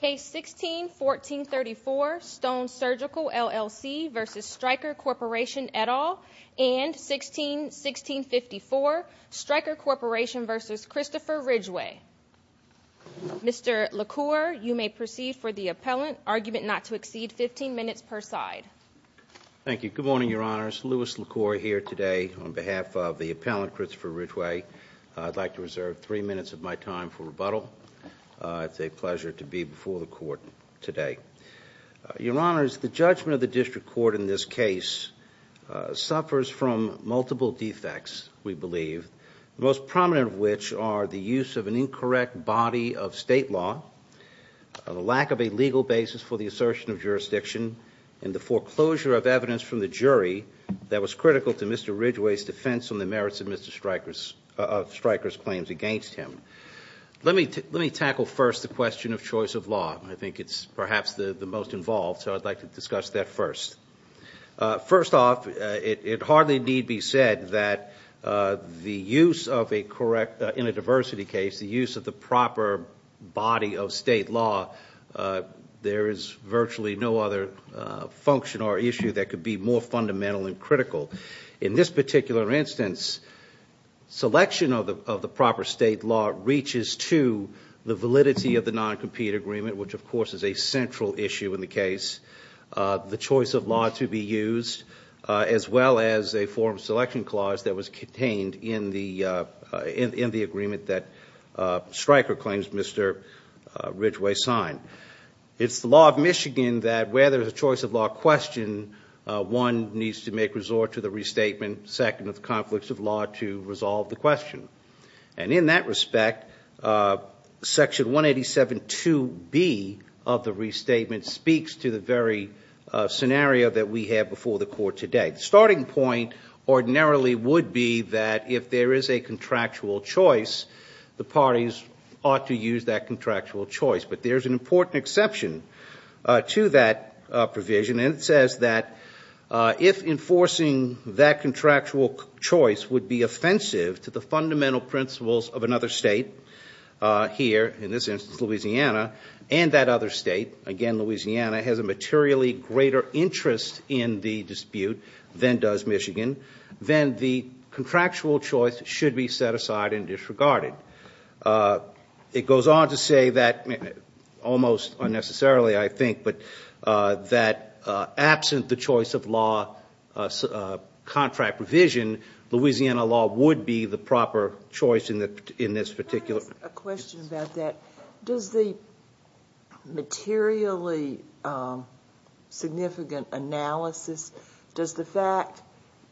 Case 16-1434 Stone Surgical LLC v. Stryker Corporation et al. and 16-1654 Stryker Corporation v. Christopher Ridgeway. Mr. LaCour, you may proceed for the appellant. Argument not to exceed 15 minutes per side. Thank you. Good morning, Your Honors. Louis LaCour here today on behalf of the appellant Christopher Ridgeway. I'd like to reserve three minutes of my time for rebuttal. It's a pleasure to be before the court today. Your Honors, the judgment of the district court in this case suffers from multiple defects, we believe, the most prominent of which are the use of an incorrect body of state law, the lack of a legal basis for the assertion of jurisdiction, and the foreclosure of evidence from the jury that was critical to Mr. Ridgeway's defense on the merits of Stryker's claims against him. Let me tackle first the question of choice of law. I think it's perhaps the most involved, so I'd like to discuss that first. First off, it hardly need be said that the use of a correct, in a diversity case, the use of the proper body of state law, there is virtually no other function or issue that could be more fundamental and critical. In this particular instance, selection of the proper state law reaches to the validity of the non-compete agreement, which of course is a central issue in the case, the choice of law to be used, as well as a forum selection clause that was contained in the agreement that Stryker claims Mr. Ridgeway signed. It's the law of Michigan that where there's a choice of law question, one needs to make resort to the restatement, second of the conflicts of law to resolve the question. In that respect, section 187.2B of the restatement speaks to the very scenario that we have before the court today. Starting point ordinarily would be that if there is a contractual choice, the parties ought to use that contractual choice, but there's an important exception to that provision. It says that if enforcing that contractual choice would be offensive to the fundamental principles of another state, here in this instance Louisiana, and that other state, again Louisiana, has a materially greater interest in the dispute than does Michigan, then the contractual choice should be set aside and disregarded. It goes on to say that, almost unnecessarily I think, but that absent the choice of law contract provision, Louisiana law would be the proper choice in this particular instance. A question about that. Does the materially significant analysis, does the fact,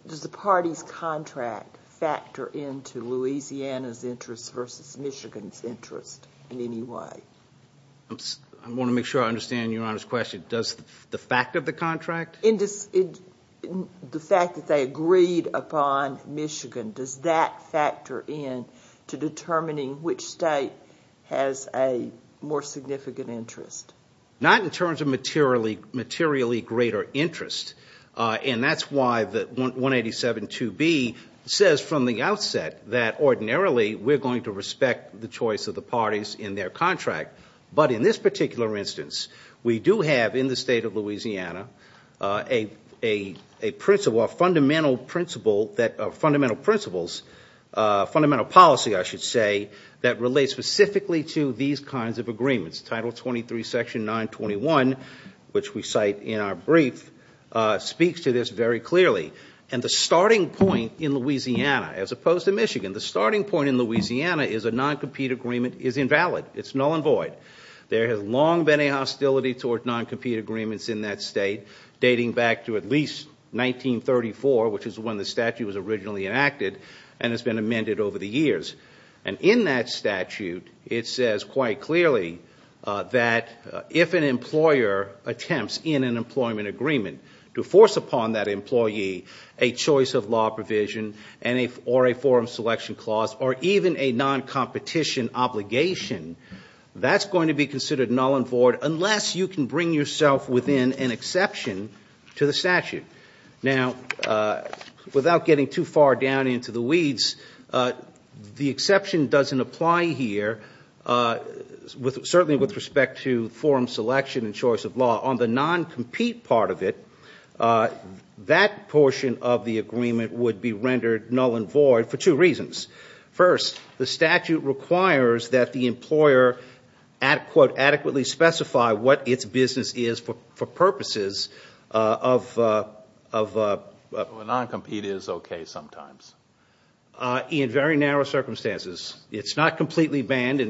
does the party's contract factor into Louisiana's interest versus Michigan's interest in any way? I want to make sure I understand Your Honor's question. Does the fact of the contract? The fact that they agreed upon Michigan, does that factor in to determining which state has a more significant interest? Not in terms of materially greater interest, and that's why the 187 2B says from the outset that ordinarily we're going to respect the choice of the parties in their contract, but in this particular instance we do have in the state of Louisiana a principle, a fundamental principle that, fundamental principles, fundamental policy I should say, that relates specifically to these kinds of agreements. Title 23 section 921, which we cite in our brief, speaks to this very clearly. And the starting point in Louisiana, as opposed to Michigan, the starting point in Louisiana is a non-compete agreement is invalid. It's null and void. There has long been a hostility toward non-compete agreements in that state, dating back to at least 1934, which is when the statute was originally enacted and has been amended over the years. And in that statute it says quite clearly that if an employer attempts in an employment agreement to force upon that employee a choice of law provision or a forum selection clause or even a non-competition obligation, that's going to be considered null and void unless you can bring yourself within an exception to the statute. Now, without getting too far down into the weeds, the exception doesn't apply here, certainly with respect to forum selection and choice of law. On the non-compete part of it, that portion of the agreement would be rendered null and void for two reasons. First, the statute requires that the employer adequately specify what its business is for purposes of- A non-compete is okay sometimes. In very narrow circumstances. It's not completely banned.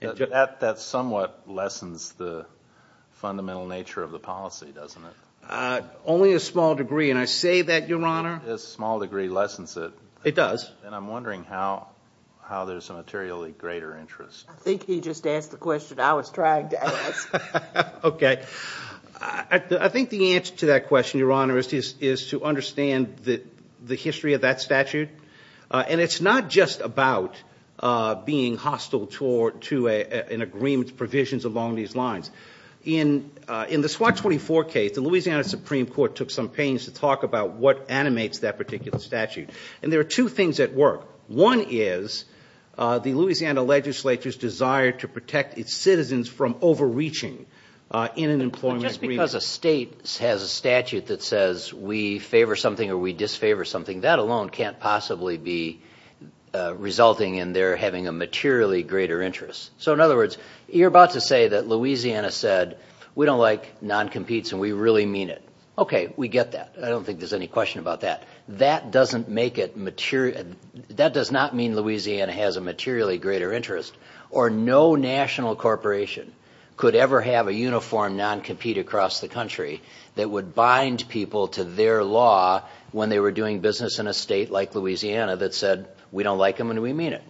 That somewhat lessens the fundamental nature of the policy, doesn't it? Only a small degree, and I say that, Your Honor. A small degree lessens it. It does. And I'm wondering how there's a materially greater interest. I think he just asked the question I was trying to ask. Okay. I think the answer to that question, Your Honor, is to understand the history of that statute. And it's not just about being hostile to an agreement's provisions along these lines. In the SWAT 24 case, the Louisiana Supreme Court took some pains to talk about what animates that particular statute. And there are two things at work. One is the Louisiana legislature's desire to protect its citizens from overreaching in an employment agreement. Just because a state has a statute that says we favor something or we disfavor something, that alone can't possibly be resulting in their having a materially greater interest. So, in other words, you're about to say that Louisiana said we don't like non-competes and we really mean it. Okay, we get that. I don't think there's any question about that. That doesn't make it material. That does not mean Louisiana has a materially greater interest. Or no national corporation could ever have a uniform non-compete across the country that would bind people to their law when they were doing business in a state like Louisiana that said we don't like them and we mean it.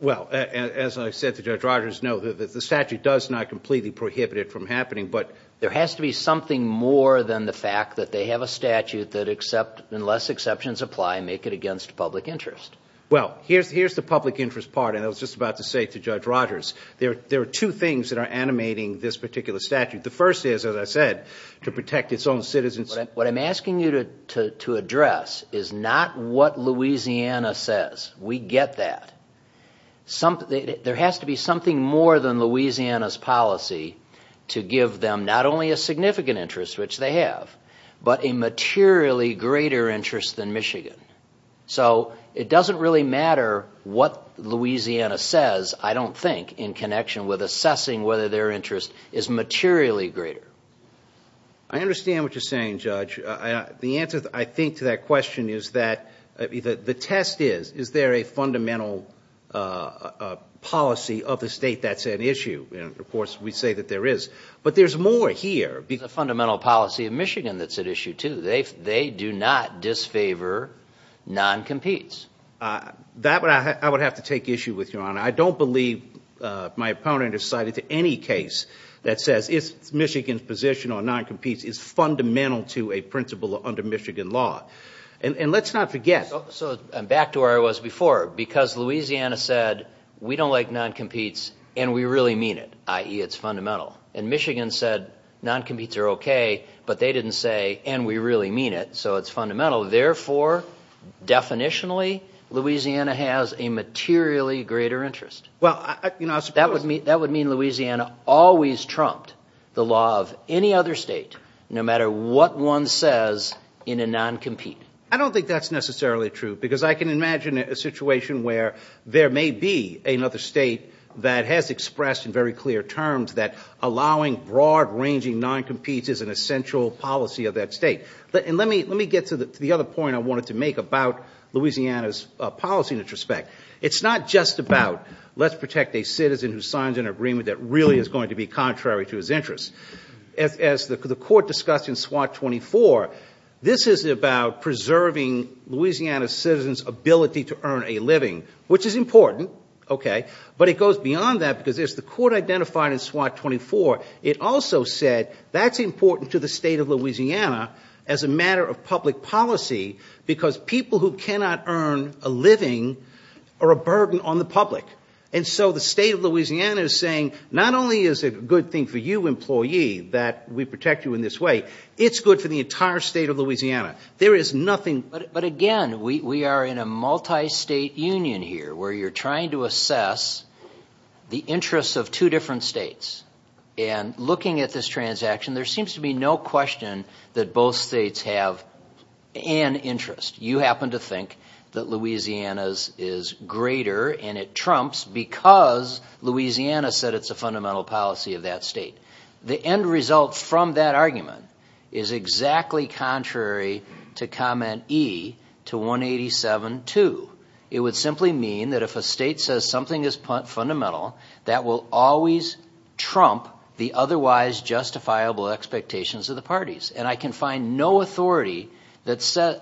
Well, as I said to Judge Rogers, no, the statute does not completely prohibit it from happening. But there has to be something more than the fact that they have a statute that unless exceptions apply make it against public interest. Well, here's the public interest part, and I was just about to say to Judge Rogers, there are two things that are animating this particular statute. The first is, as I said, to protect its own citizens. What I'm asking you to address is not what Louisiana says. We get that. There has to be something more than Louisiana's policy to give them not only a significant interest, which they have, but a materially greater interest than Michigan. So it doesn't really matter what Louisiana says, I don't think, in connection with assessing whether their interest is materially greater. I understand what you're saying, Judge. The answer, I think, to that question is that the test is, is there a fundamental policy of the state that's at issue? And, of course, we say that there is. But there's more here. There's a fundamental policy of Michigan that's at issue, too. They do not disfavor non-competes. I don't believe my opponent has cited any case that says Michigan's position on non-competes is fundamental to a principle under Michigan law. And let's not forget. So back to where I was before. Because Louisiana said, we don't like non-competes, and we really mean it, i.e., it's fundamental. And Michigan said, non-competes are okay, but they didn't say, and we really mean it, so it's fundamental. Therefore, definitionally, Louisiana has a materially greater interest. That would mean Louisiana always trumped the law of any other state, no matter what one says in a non-compete. I don't think that's necessarily true, because I can imagine a situation where there may be another state that has expressed in very clear terms that allowing broad-ranging non-competes is an essential policy of that state. And let me get to the other point I wanted to make about Louisiana's policy in this respect. It's not just about let's protect a citizen who signs an agreement that really is going to be contrary to his interests. As the Court discussed in SWOT 24, this is about preserving Louisiana citizens' ability to earn a living, which is important, okay. But it goes beyond that, because as the Court identified in SWOT 24, it also said that's important to the state of Louisiana as a matter of public policy, because people who cannot earn a living are a burden on the public. And so the state of Louisiana is saying, not only is it a good thing for you, employee, that we protect you in this way, it's good for the entire state of Louisiana. There is nothing... But again, we are in a multi-state union here, where you're trying to assess the interests of two different states. And looking at this transaction, there seems to be no question that both states have an interest. You happen to think that Louisiana's is greater, and it trumps because Louisiana said it's a fundamental policy of that state. The end result from that argument is exactly contrary to Comment E to 187.2. It would simply mean that if a state says something is fundamental, that will always trump the otherwise justifiable expectations of the parties. And I can find no authority that says...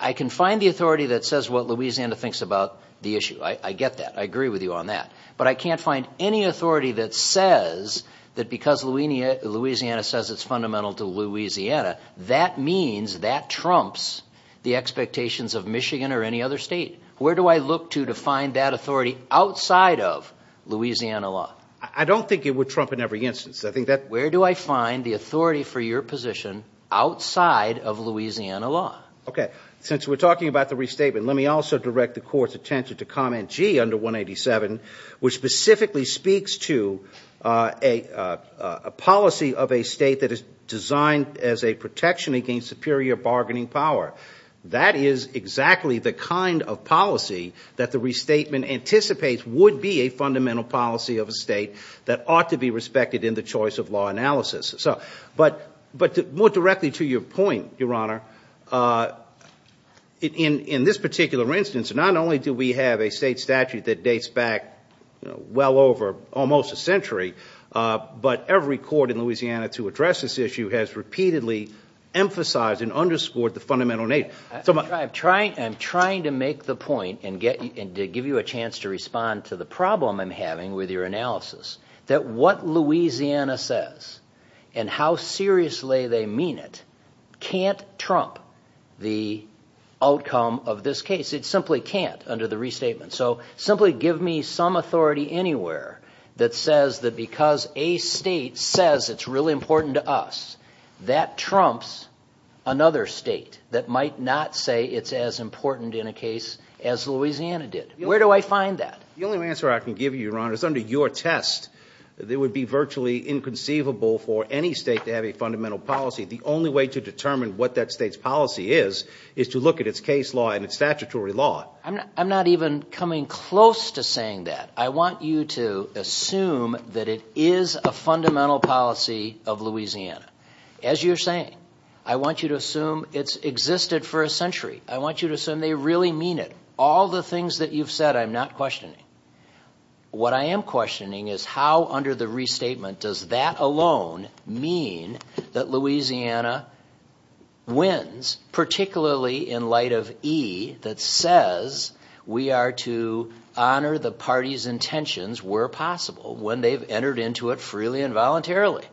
I can find the authority that says what Louisiana thinks about the issue. I get that. I agree with you on that. But I can't find any authority that says that because Louisiana says it's fundamental to Louisiana, that means that trumps the expectations of Michigan or any other state. Where do I look to to find that authority outside of Louisiana law? I don't think it would trump in every instance. Where do I find the authority for your position outside of Louisiana law? OK, since we're talking about the restatement, let me also direct the court's attention to Comment G under 187, which specifically speaks to a policy of a state that is designed as a protection against superior bargaining power. That is exactly the kind of policy that the restatement anticipates would be a fundamental policy of a state that ought to be respected in the choice of law analysis. But more directly to your point, Your Honor, in this particular instance, not only do we have a state statute that dates back well over almost a century, but every court in Louisiana to address this issue has repeatedly emphasized and underscored the fundamental nature. I'm trying to make the point and give you a chance to respond to the problem I'm having with your analysis, that what Louisiana says and how seriously they mean it can't trump the outcome of this case. It simply can't under the restatement. So simply give me some authority anywhere that says that because a state says it's really important to us, that trumps another state that might not say it's as important in a case as Louisiana did. Where do I find that? The only answer I can give you, Your Honor, is under your test. It would be virtually inconceivable for any state to have a fundamental policy. The only way to determine what that state's policy is is to look at its case law and its statutory law. I'm not even coming close to saying that. I want you to assume that it is a fundamental policy of Louisiana. As you're saying, I want you to assume it's existed for a century. I want you to assume they really mean it. All the things that you've said I'm not questioning. What I am questioning is how under the restatement does that alone mean that Louisiana wins, particularly in light of E that says we are to honor the party's intentions where possible, when they've entered into it freely and voluntarily.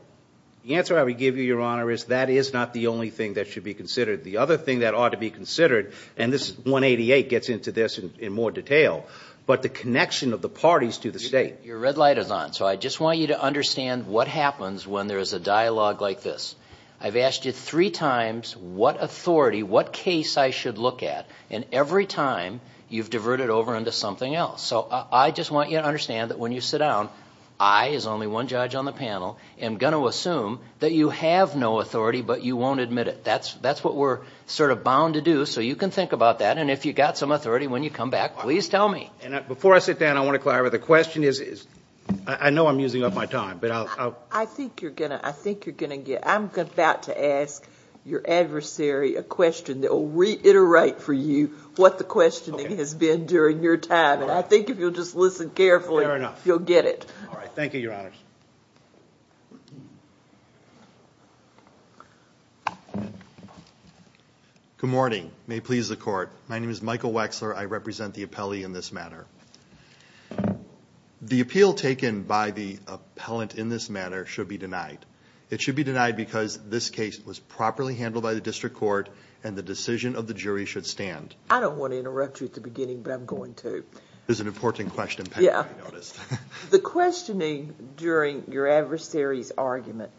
The answer I would give you, Your Honor, is that is not the only thing that should be considered. The other thing that ought to be considered, and this 188 gets into this in more detail, but the connection of the parties to the state. Your red light is on. So I just want you to understand what happens when there is a dialogue like this. I've asked you three times what authority, what case I should look at, and every time you've diverted over into something else. So I just want you to understand that when you sit down, I, as only one judge on the panel, am going to assume that you have no authority but you won't admit it. That's what we're sort of bound to do. So you can think about that. And if you've got some authority when you come back, please tell me. Before I sit down, I want to clarify, the question is, I know I'm using up my time. I think you're going to get it. I'm about to ask your adversary a question that will reiterate for you what the questioning has been during your time. And I think if you'll just listen carefully, you'll get it. All right. Thank you, Your Honors. Good morning. May it please the Court. My name is Michael Wexler. I represent the appellee in this matter. The appeal taken by the appellant in this matter should be denied. It should be denied because this case was properly handled by the district court and the decision of the jury should stand. I don't want to interrupt you at the beginning, but I'm going to. This is an important question. The questioning during your adversary's argument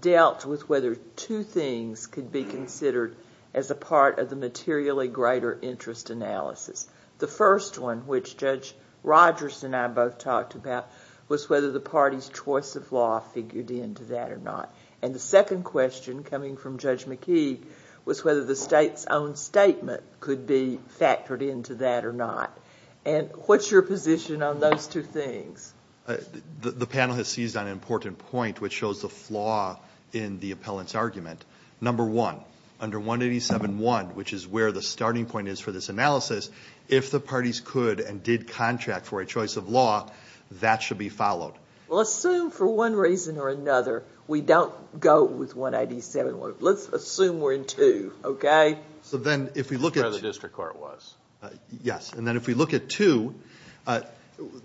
dealt with whether two things could be considered as a part of the materially greater interest analysis. The first one, which Judge Rogers and I both talked about, was whether the party's choice of law figured into that or not. And the second question, coming from Judge McKee, was whether the state's own statement could be factored into that or not. And what's your position on those two things? The panel has seized on an important point, which shows the flaw in the appellant's argument. Number one, under 187.1, which is where the starting point is for this analysis, if the parties could and did contract for a choice of law, that should be followed. Well, assume for one reason or another we don't go with 187.1. Let's assume we're in two, okay? So then if we look at... That's where the district court was. Yes. And then if we look at two,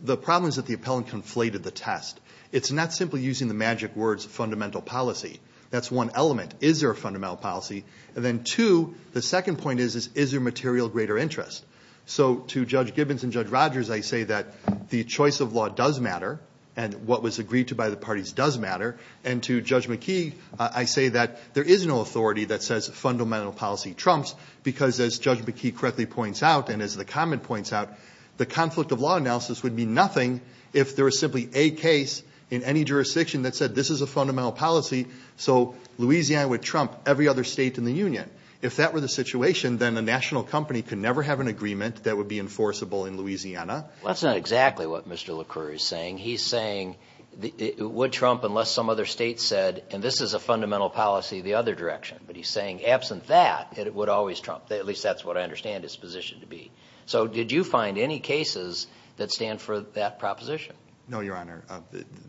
the problem is that the appellant conflated the test. It's not simply using the magic words fundamental policy. That's one element. Is there a fundamental policy? And then two, the second point is, is there material greater interest? So to Judge Gibbons and Judge Rogers, I say that the choice of law does matter and what was agreed to by the parties does matter. And to Judge McKee, I say that there is no authority that says fundamental policy trumps because, as Judge McKee correctly points out and as the comment points out, the conflict of law analysis would mean nothing if there was simply a case in any jurisdiction that said this is a fundamental policy, so Louisiana would trump every other state in the union. If that were the situation, then a national company could never have an agreement that would be enforceable in Louisiana. That's not exactly what Mr. LaCroix is saying. He's saying it would trump unless some other state said, and this is a fundamental policy, the other direction. But he's saying absent that, it would always trump. At least that's what I understand its position to be. So did you find any cases that stand for that proposition? No, Your Honor.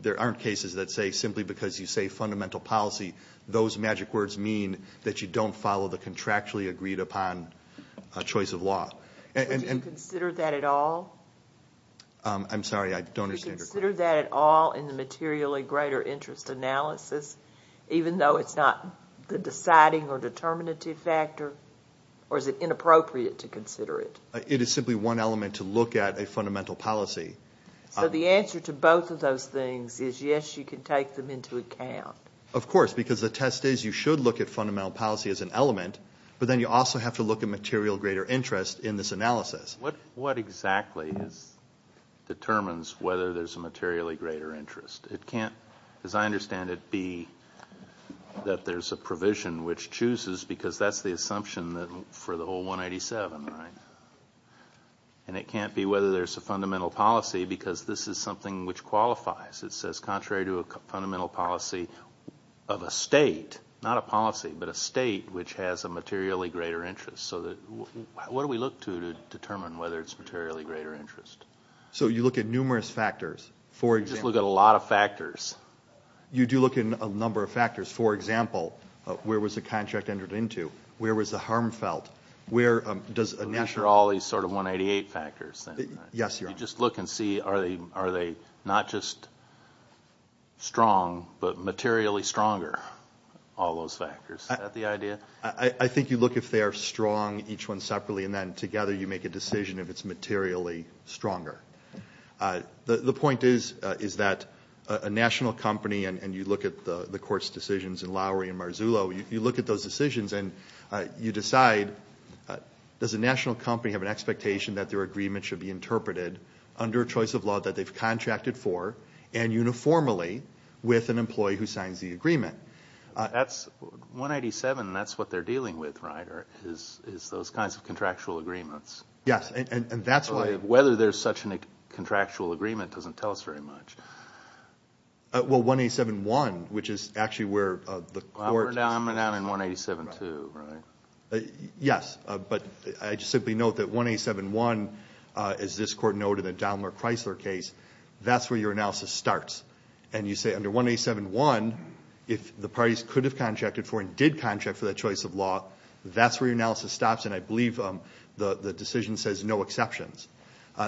There aren't cases that say simply because you say fundamental policy, those magic words mean that you don't follow the contractually agreed upon choice of law. Would you consider that at all? I'm sorry. I don't understand your question. Would you consider that at all in the materially greater interest analysis, even though it's not the deciding or determinative factor, or is it inappropriate to consider it? It is simply one element to look at a fundamental policy. So the answer to both of those things is, yes, you can take them into account. Of course, because the test is you should look at fundamental policy as an element, but then you also have to look at material greater interest in this analysis. What exactly determines whether there's a materially greater interest? It can't, as I understand it, be that there's a provision which chooses because that's the assumption for the whole 187, right? And it can't be whether there's a fundamental policy because this is something which qualifies. It says contrary to a fundamental policy of a state, not a policy, but a state which has a materially greater interest. So what do we look to to determine whether it's materially greater interest? So you look at numerous factors. You just look at a lot of factors. You do look at a number of factors. For example, where was the contract entered into? Where was the harm felt? I'm not sure all these sort of 188 factors. Yes, Your Honor. You just look and see are they not just strong but materially stronger, all those factors. Is that the idea? I think you look if they are strong, each one separately, and then together you make a decision if it's materially stronger. The point is that a national company, and you look at the court's decisions in Lowry and Marzullo, you look at those decisions and you decide does a national company have an expectation that their agreement should be interpreted under a choice of law that they've contracted for and uniformly with an employee who signs the agreement? 187, that's what they're dealing with, right, is those kinds of contractual agreements. Yes, and that's why. Whether there's such a contractual agreement doesn't tell us very much. Well, 187.1, which is actually where the court. I'm down in 187.2, right? Yes, but I just simply note that 187.1, as this Court noted in the Daimler-Chrysler case, that's where your analysis starts. And you say under 187.1, if the parties could have contracted for and did contract for that choice of law, that's where your analysis stops, and I believe the decision says no exceptions.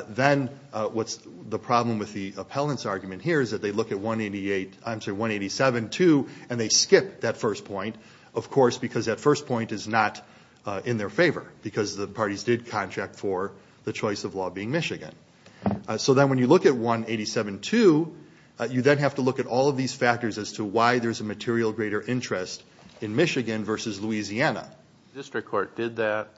Then what's the problem with the appellant's argument here is that they look at 187.2 and they skip that first point, of course, because that first point is not in their favor because the parties did contract for the choice of law being Michigan. So then when you look at 187.2, you then have to look at all of these factors as to why there's a material greater interest in Michigan versus Louisiana. The district court did that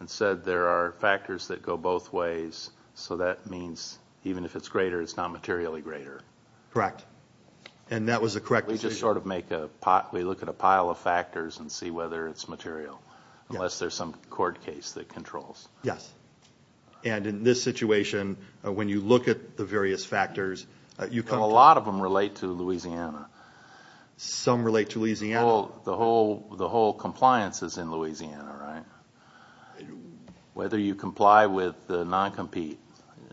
and said there are factors that go both ways, so that means even if it's greater, it's not materially greater. Correct, and that was the correct decision. We just sort of make a pile of factors and see whether it's material, unless there's some court case that controls. Yes, and in this situation, when you look at the various factors, you can't. A lot of them relate to Louisiana. Some relate to Louisiana. The whole compliance is in Louisiana, right? Whether you comply with the non-compete,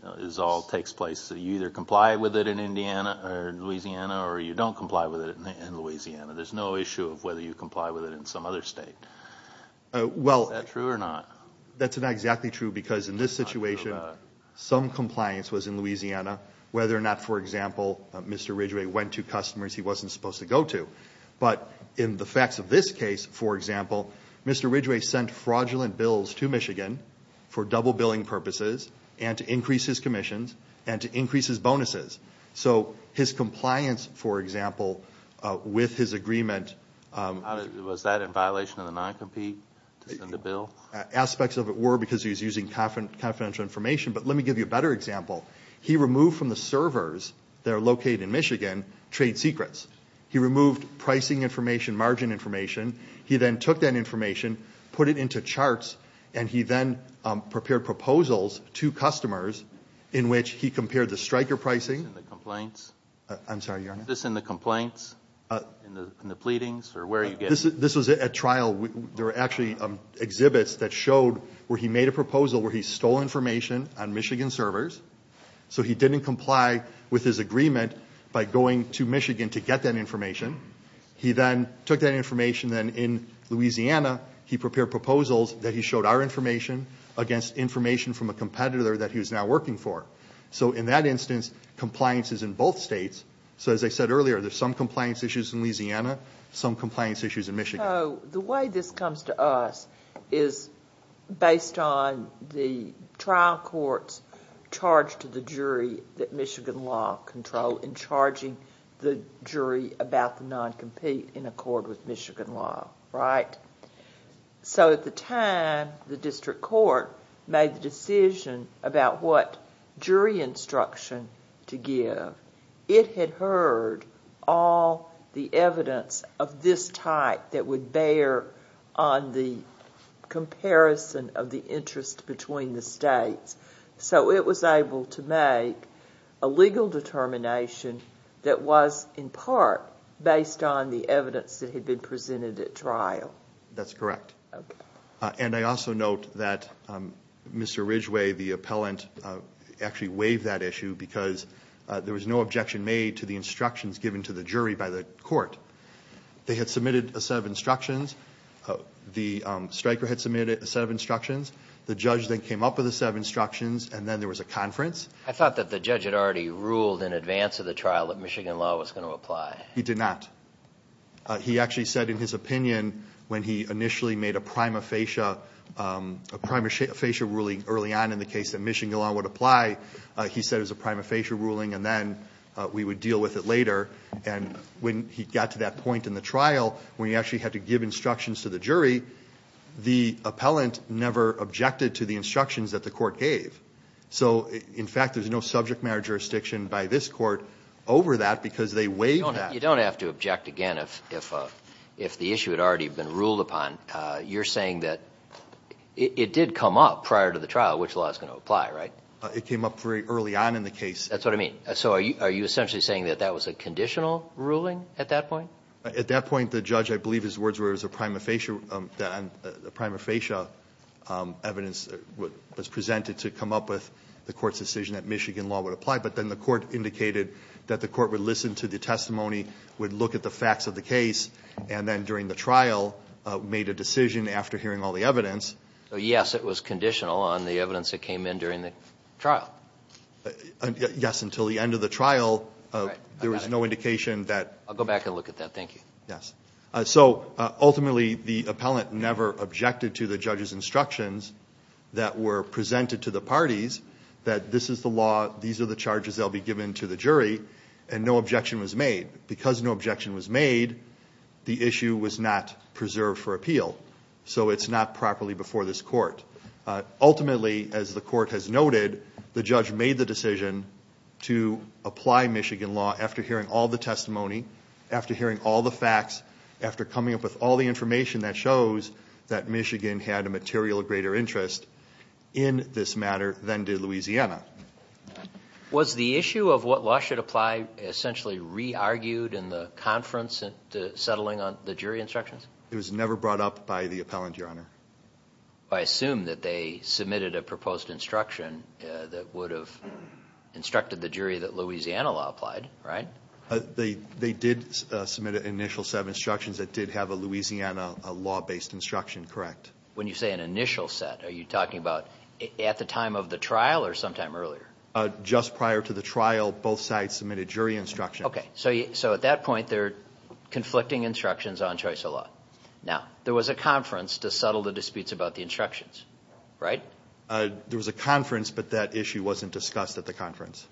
it all takes place. You either comply with it in Louisiana or you don't comply with it in Louisiana. There's no issue of whether you comply with it in some other state. Is that true or not? That's not exactly true because in this situation, some compliance was in Louisiana, whether or not, for example, Mr. Ridgway went to customers he wasn't supposed to go to. But in the facts of this case, for example, Mr. Ridgway sent fraudulent bills to Michigan for double billing purposes and to increase his commissions and to increase his bonuses. So his compliance, for example, with his agreement— Was that in violation of the non-compete to send a bill? Aspects of it were because he was using confidential information. But let me give you a better example. He removed from the servers that are located in Michigan trade secrets. He removed pricing information, margin information. He then took that information, put it into charts, and he then prepared proposals to customers in which he compared the striker pricing— Is this in the complaints? I'm sorry, Your Honor? This was at trial. There were actually exhibits that showed where he made a proposal where he stole information on Michigan servers. So he didn't comply with his agreement by going to Michigan to get that information. He then took that information. Then in Louisiana, he prepared proposals that he showed our information against information from a competitor that he was now working for. So in that instance, compliance is in both states. So as I said earlier, there's some compliance issues in Louisiana, some compliance issues in Michigan. So the way this comes to us is based on the trial courts charged to the jury that Michigan law control in charging the jury about the non-compete in accord with Michigan law, right? So at the time, the district court made the decision about what jury instruction to give. It had heard all the evidence of this type that would bear on the comparison of the interest between the states. So it was able to make a legal determination that was in part based on the evidence that had been presented at trial. That's correct. Okay. And I also note that Mr. Ridgway, the appellant, actually waived that issue because there was no objection made to the instructions given to the jury by the court. They had submitted a set of instructions. The striker had submitted a set of instructions. The judge then came up with a set of instructions, and then there was a conference. I thought that the judge had already ruled in advance of the trial that Michigan law was going to apply. He did not. He actually said in his opinion when he initially made a prima facie ruling early on in the case that Michigan law would apply, he said it was a prima facie ruling, and then we would deal with it later. And when he got to that point in the trial when he actually had to give instructions to the jury, the appellant never objected to the instructions that the court gave. So, in fact, there's no subject matter jurisdiction by this court over that because they waived that. You don't have to object again if the issue had already been ruled upon. You're saying that it did come up prior to the trial which law is going to apply, right? It came up very early on in the case. That's what I mean. So are you essentially saying that that was a conditional ruling at that point? At that point, the judge, I believe his words were it was a prima facie evidence that was presented to come up with the court's decision that Michigan law would apply, but then the court indicated that the court would listen to the testimony, would look at the facts of the case, and then during the trial made a decision after hearing all the evidence. So, yes, it was conditional on the evidence that came in during the trial. Yes, until the end of the trial, there was no indication that. I'll go back and look at that. Thank you. Yes. So, ultimately, the appellant never objected to the judge's instructions that were presented to the parties that this is the law, these are the charges that will be given to the jury, and no objection was made. Because no objection was made, the issue was not preserved for appeal. So it's not properly before this court. Ultimately, as the court has noted, the judge made the decision to apply Michigan law after hearing all the testimony, after hearing all the facts, after coming up with all the information that shows that Michigan had a material greater interest in this matter than did Louisiana. Was the issue of what law should apply essentially re-argued in the conference settling on the jury instructions? It was never brought up by the appellant, Your Honor. I assume that they submitted a proposed instruction that would have instructed the jury that Louisiana law applied, right? They did submit an initial set of instructions that did have a Louisiana law-based instruction, correct. When you say an initial set, are you talking about at the time of the trial or sometime earlier? Just prior to the trial, both sides submitted jury instructions. Okay. So at that point, they're conflicting instructions on choice of law. Now, there was a conference to settle the disputes about the instructions, right? There was a conference, but that issue wasn't discussed at the conference.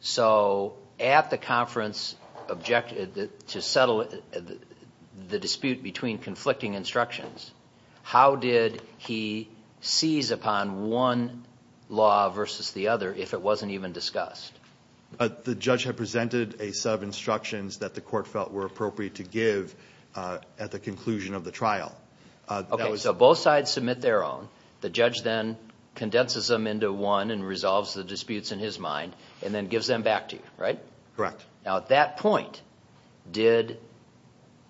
So at the conference to settle the dispute between conflicting instructions, how did he seize upon one law versus the other if it wasn't even discussed? The judge had presented a set of instructions that the court felt were appropriate to give at the conclusion of the trial. Okay. So both sides submit their own. The judge then condenses them into one and resolves the disputes in his mind and then gives them back to you, right? Correct. Now, at that point, did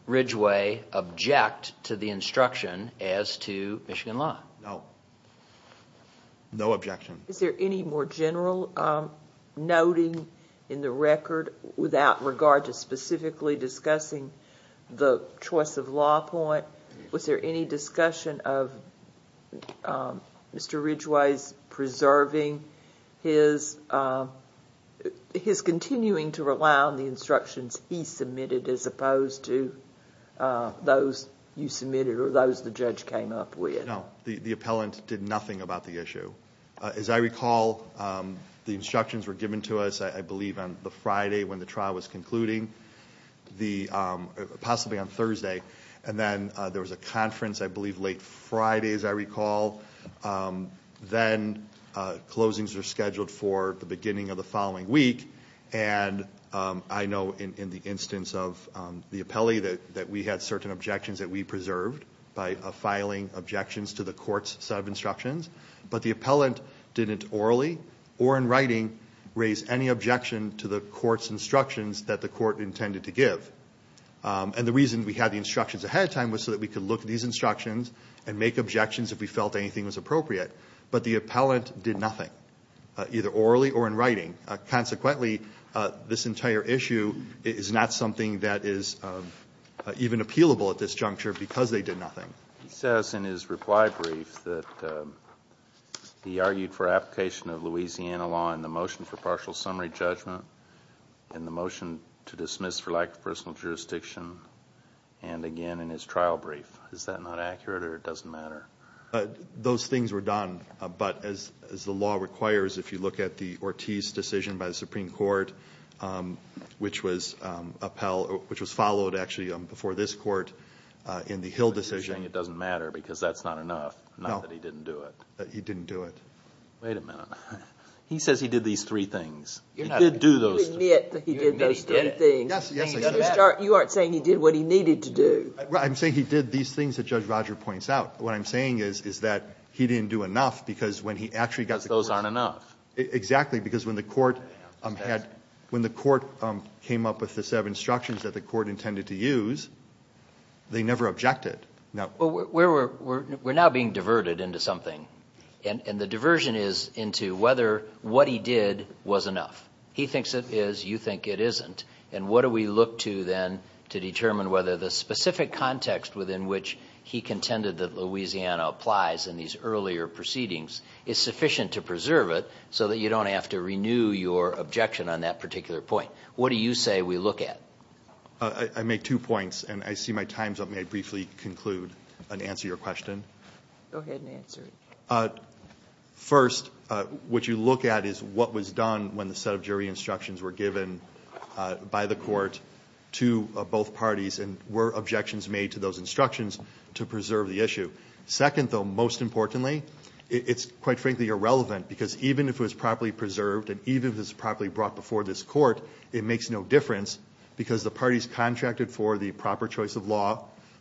Ridgway object to the instruction as to Michigan law? No. No objection. Is there any more general noting in the record without regard to specifically discussing the choice of law point? Was there any discussion of Mr. Ridgway's preserving his continuing to rely on the instructions he submitted as opposed to those you submitted or those the judge came up with? No. The appellant did nothing about the issue. As I recall, the instructions were given to us, I believe, on the Friday when the trial was concluding, possibly on Thursday. And then there was a conference, I believe, late Friday, as I recall. Then closings are scheduled for the beginning of the following week. And I know in the instance of the appellee that we had certain objections that we preserved by filing objections to the court's set of instructions. But the appellant didn't orally or in writing raise any objection to the court's instructions that the court intended to give. And the reason we had the instructions ahead of time was so that we could look at these instructions and make objections if we felt anything was appropriate. But the appellant did nothing, either orally or in writing. Consequently, this entire issue is not something that is even appealable at this juncture because they did nothing. He says in his reply brief that he argued for application of Louisiana law in the motion for partial summary judgment, in the motion to dismiss for lack of personal jurisdiction, and again in his trial brief. Is that not accurate or it doesn't matter? Those things were done. But as the law requires, if you look at the Ortiz decision by the Supreme Court, which was followed, actually, before this Court in the Hill decision. But you're saying it doesn't matter because that's not enough, not that he didn't do it. He didn't do it. Wait a minute. He says he did these three things. He did do those. You admit that he did those three things. Yes, yes. You aren't saying he did what he needed to do. I'm saying he did these things that Judge Roger points out. What I'm saying is, is that he didn't do enough because when he actually got the court. Because those aren't enough. Exactly, because when the court had, when the court came up with the set of instructions that the court intended to use, they never objected. We're now being diverted into something. And the diversion is into whether what he did was enough. He thinks it is. You think it isn't. And what do we look to then to determine whether the specific context within which he contended that Louisiana applies in these earlier proceedings is sufficient to preserve it so that you don't have to renew your objection on that particular point. What do you say we look at? I make two points. And I see my time's up. May I briefly conclude and answer your question? Go ahead and answer it. First, what you look at is what was done when the set of jury instructions were given by the court to both parties and were objections made to those instructions to preserve the issue. Second, though, most importantly, it's quite frankly irrelevant because even if it was properly preserved and even if it was properly brought before this court, it makes no difference because the parties contracted for the proper choice of law,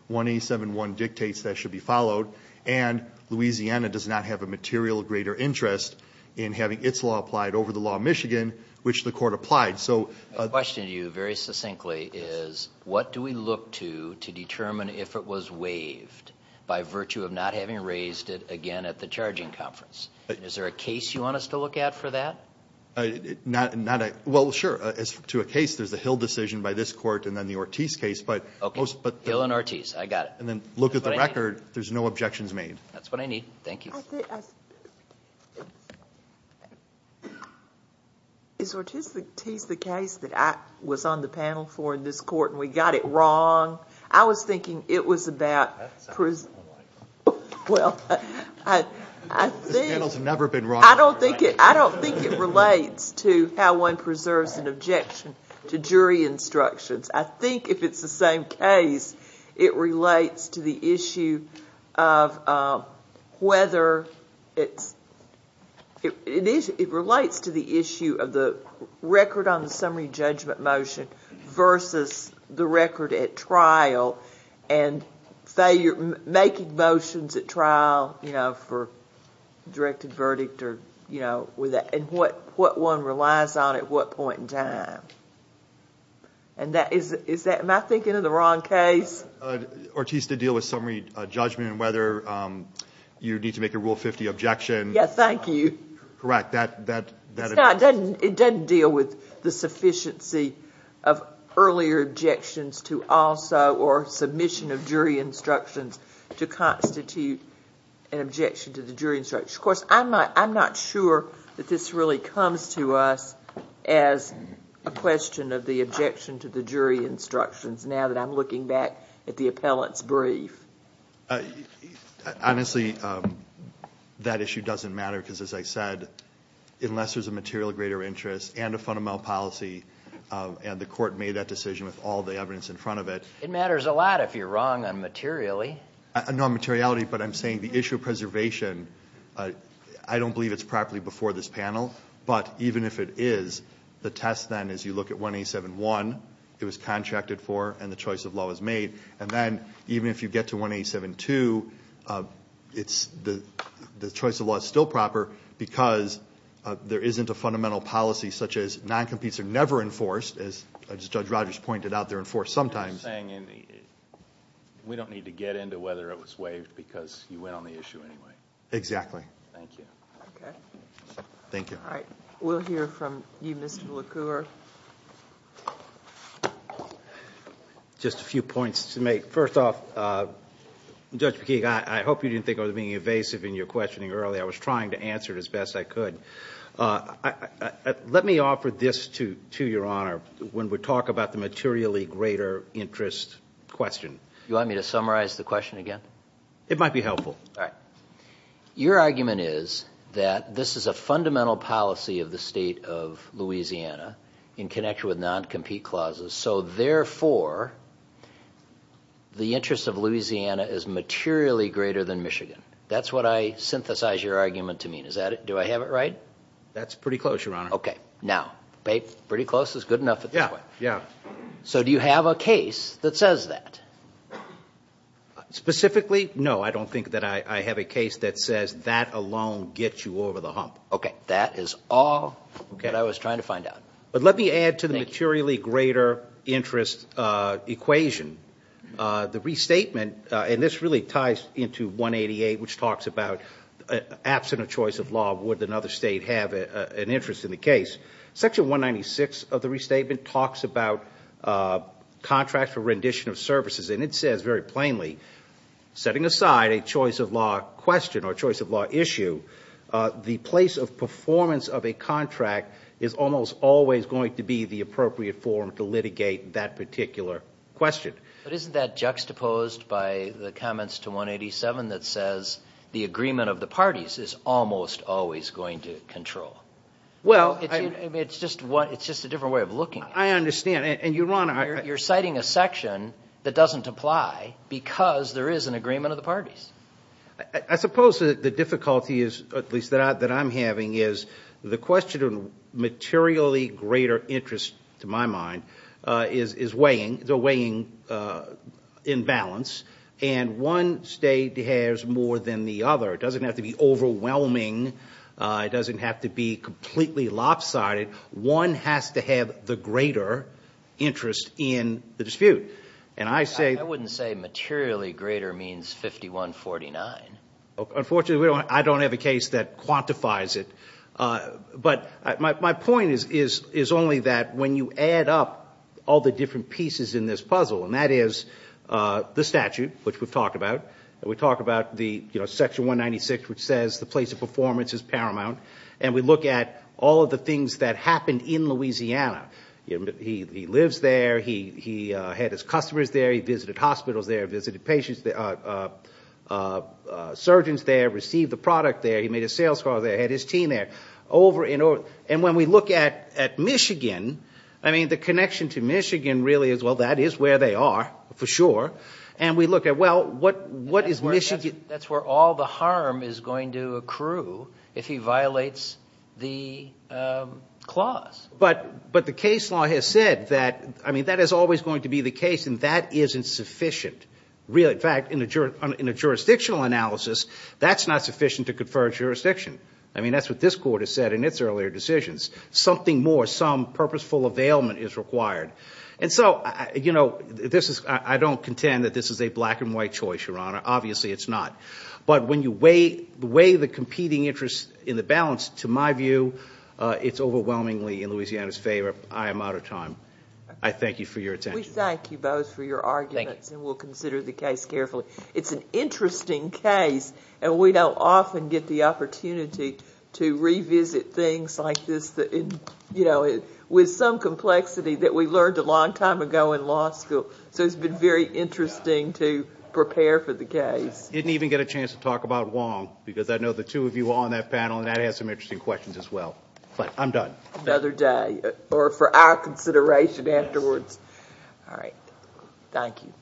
1871 dictates that should be followed, and Louisiana does not have a material greater interest in having its law applied over the law of Michigan, which the court applied. My question to you very succinctly is what do we look to to determine if it was waived by virtue of not having raised it again at the charging conference? Is there a case you want us to look at for that? Well, sure. To a case, there's the Hill decision by this court and then the Ortiz case. Okay. Hill and Ortiz. I got it. And then look at the record. There's no objections made. That's what I need. Thank you. Is Ortiz the case that I was on the panel for in this court and we got it wrong? I was thinking it was about prison. Well, I think. This panel's never been wrong. I don't think it relates to how one preserves an objection to jury instructions. I think if it's the same case, it relates to the issue of whether it's, it relates to the issue of the record on the summary judgment motion versus the record at trial and making motions at trial, you know, for directed verdict or, you know, and what one relies on at what point in time. Am I thinking of the wrong case? Ortiz did deal with summary judgment and whether you need to make a Rule 50 objection. Yes, thank you. Correct. Scott, it doesn't deal with the sufficiency of earlier objections to also or submission of jury instructions to constitute an objection to the jury instructions. Of course, I'm not sure that this really comes to us as a question of the objection to the jury instructions now that I'm looking back at the appellant's brief. Honestly, that issue doesn't matter because, as I said, unless there's a material greater interest and a fundamental policy and the court made that decision with all the evidence in front of it. It matters a lot if you're wrong on materially. No, on materiality, but I'm saying the issue of preservation, I don't believe it's properly before this panel, but even if it is, the test then is you look at 187.1, it was contracted for and the choice of law was made, and then even if you get to 187.2, the choice of law is still proper because there isn't a fundamental policy such as non-competes are never enforced, as Judge Rogers pointed out, they're enforced sometimes. You're saying we don't need to get into whether it was waived because you went on the issue anyway. Exactly. Thank you. Okay. Thank you. All right. We'll hear from you, Mr. LeCour. Just a few points to make. First off, Judge McKeague, I hope you didn't think I was being evasive in your questioning earlier. I was trying to answer it as best I could. Let me offer this to your Honor when we talk about the materially greater interest question. You want me to summarize the question again? It might be helpful. All right. Your argument is that this is a fundamental policy of the State of Louisiana in connection with non-compete clauses, so therefore, the interest of Louisiana is materially greater than Michigan. That's what I synthesize your argument to mean. Do I have it right? That's pretty close, Your Honor. Okay. Now, pretty close is good enough. Yeah. So do you have a case that says that? Specifically, no. I don't think that I have a case that says that alone gets you over the hump. Okay. That is all that I was trying to find out. But let me add to the materially greater interest equation. The restatement, and this really ties into 188, which talks about absent of choice of law would another state have an interest in the case. Section 196 of the restatement talks about contracts for rendition of services, and it says very plainly, setting aside a choice of law question or choice of law issue, the place of performance of a contract is almost always going to be the appropriate form to litigate that particular question. But isn't that juxtaposed by the comments to 187 that says the agreement of the parties is almost always going to control? Well, I mean, it's just a different way of looking at it. I understand. You're citing a section that doesn't apply because there is an agreement of the parties. I suppose the difficulty is, at least that I'm having, is the question of materially greater interest, to my mind, is weighing in balance, and one state has more than the other. It doesn't have to be overwhelming. It doesn't have to be completely lopsided. One has to have the greater interest in the dispute. And I say- I wouldn't say materially greater means 51-49. Unfortunately, I don't have a case that quantifies it. But my point is only that when you add up all the different pieces in this puzzle, and that is the statute, which we've talked about, and we talk about the section 196, which says the place of performance is paramount, and we look at all of the things that happened in Louisiana. He lives there. He had his customers there. He visited hospitals there, visited surgeons there, received the product there. He made a sales call there, had his team there. And when we look at Michigan, I mean, the connection to Michigan really is, well, that is where they are for sure. And we look at, well, what is Michigan- But the case law has said that, I mean, that is always going to be the case, and that isn't sufficient. In fact, in a jurisdictional analysis, that's not sufficient to confer jurisdiction. I mean, that's what this court has said in its earlier decisions. Something more, some purposeful availment is required. And so, you know, I don't contend that this is a black-and-white choice, Your Honor. Obviously it's not. But when you weigh the competing interests in the balance, to my view, it's overwhelmingly in Louisiana's favor. I am out of time. I thank you for your attention. We thank you both for your arguments, and we'll consider the case carefully. It's an interesting case, and we don't often get the opportunity to revisit things like this, you know, with some complexity that we learned a long time ago in law school. So it's been very interesting to prepare for the case. I didn't even get a chance to talk about Wong, because I know the two of you are on that panel, and that has some interesting questions as well. But I'm done. Another day, or for our consideration afterwards. All right. Thank you.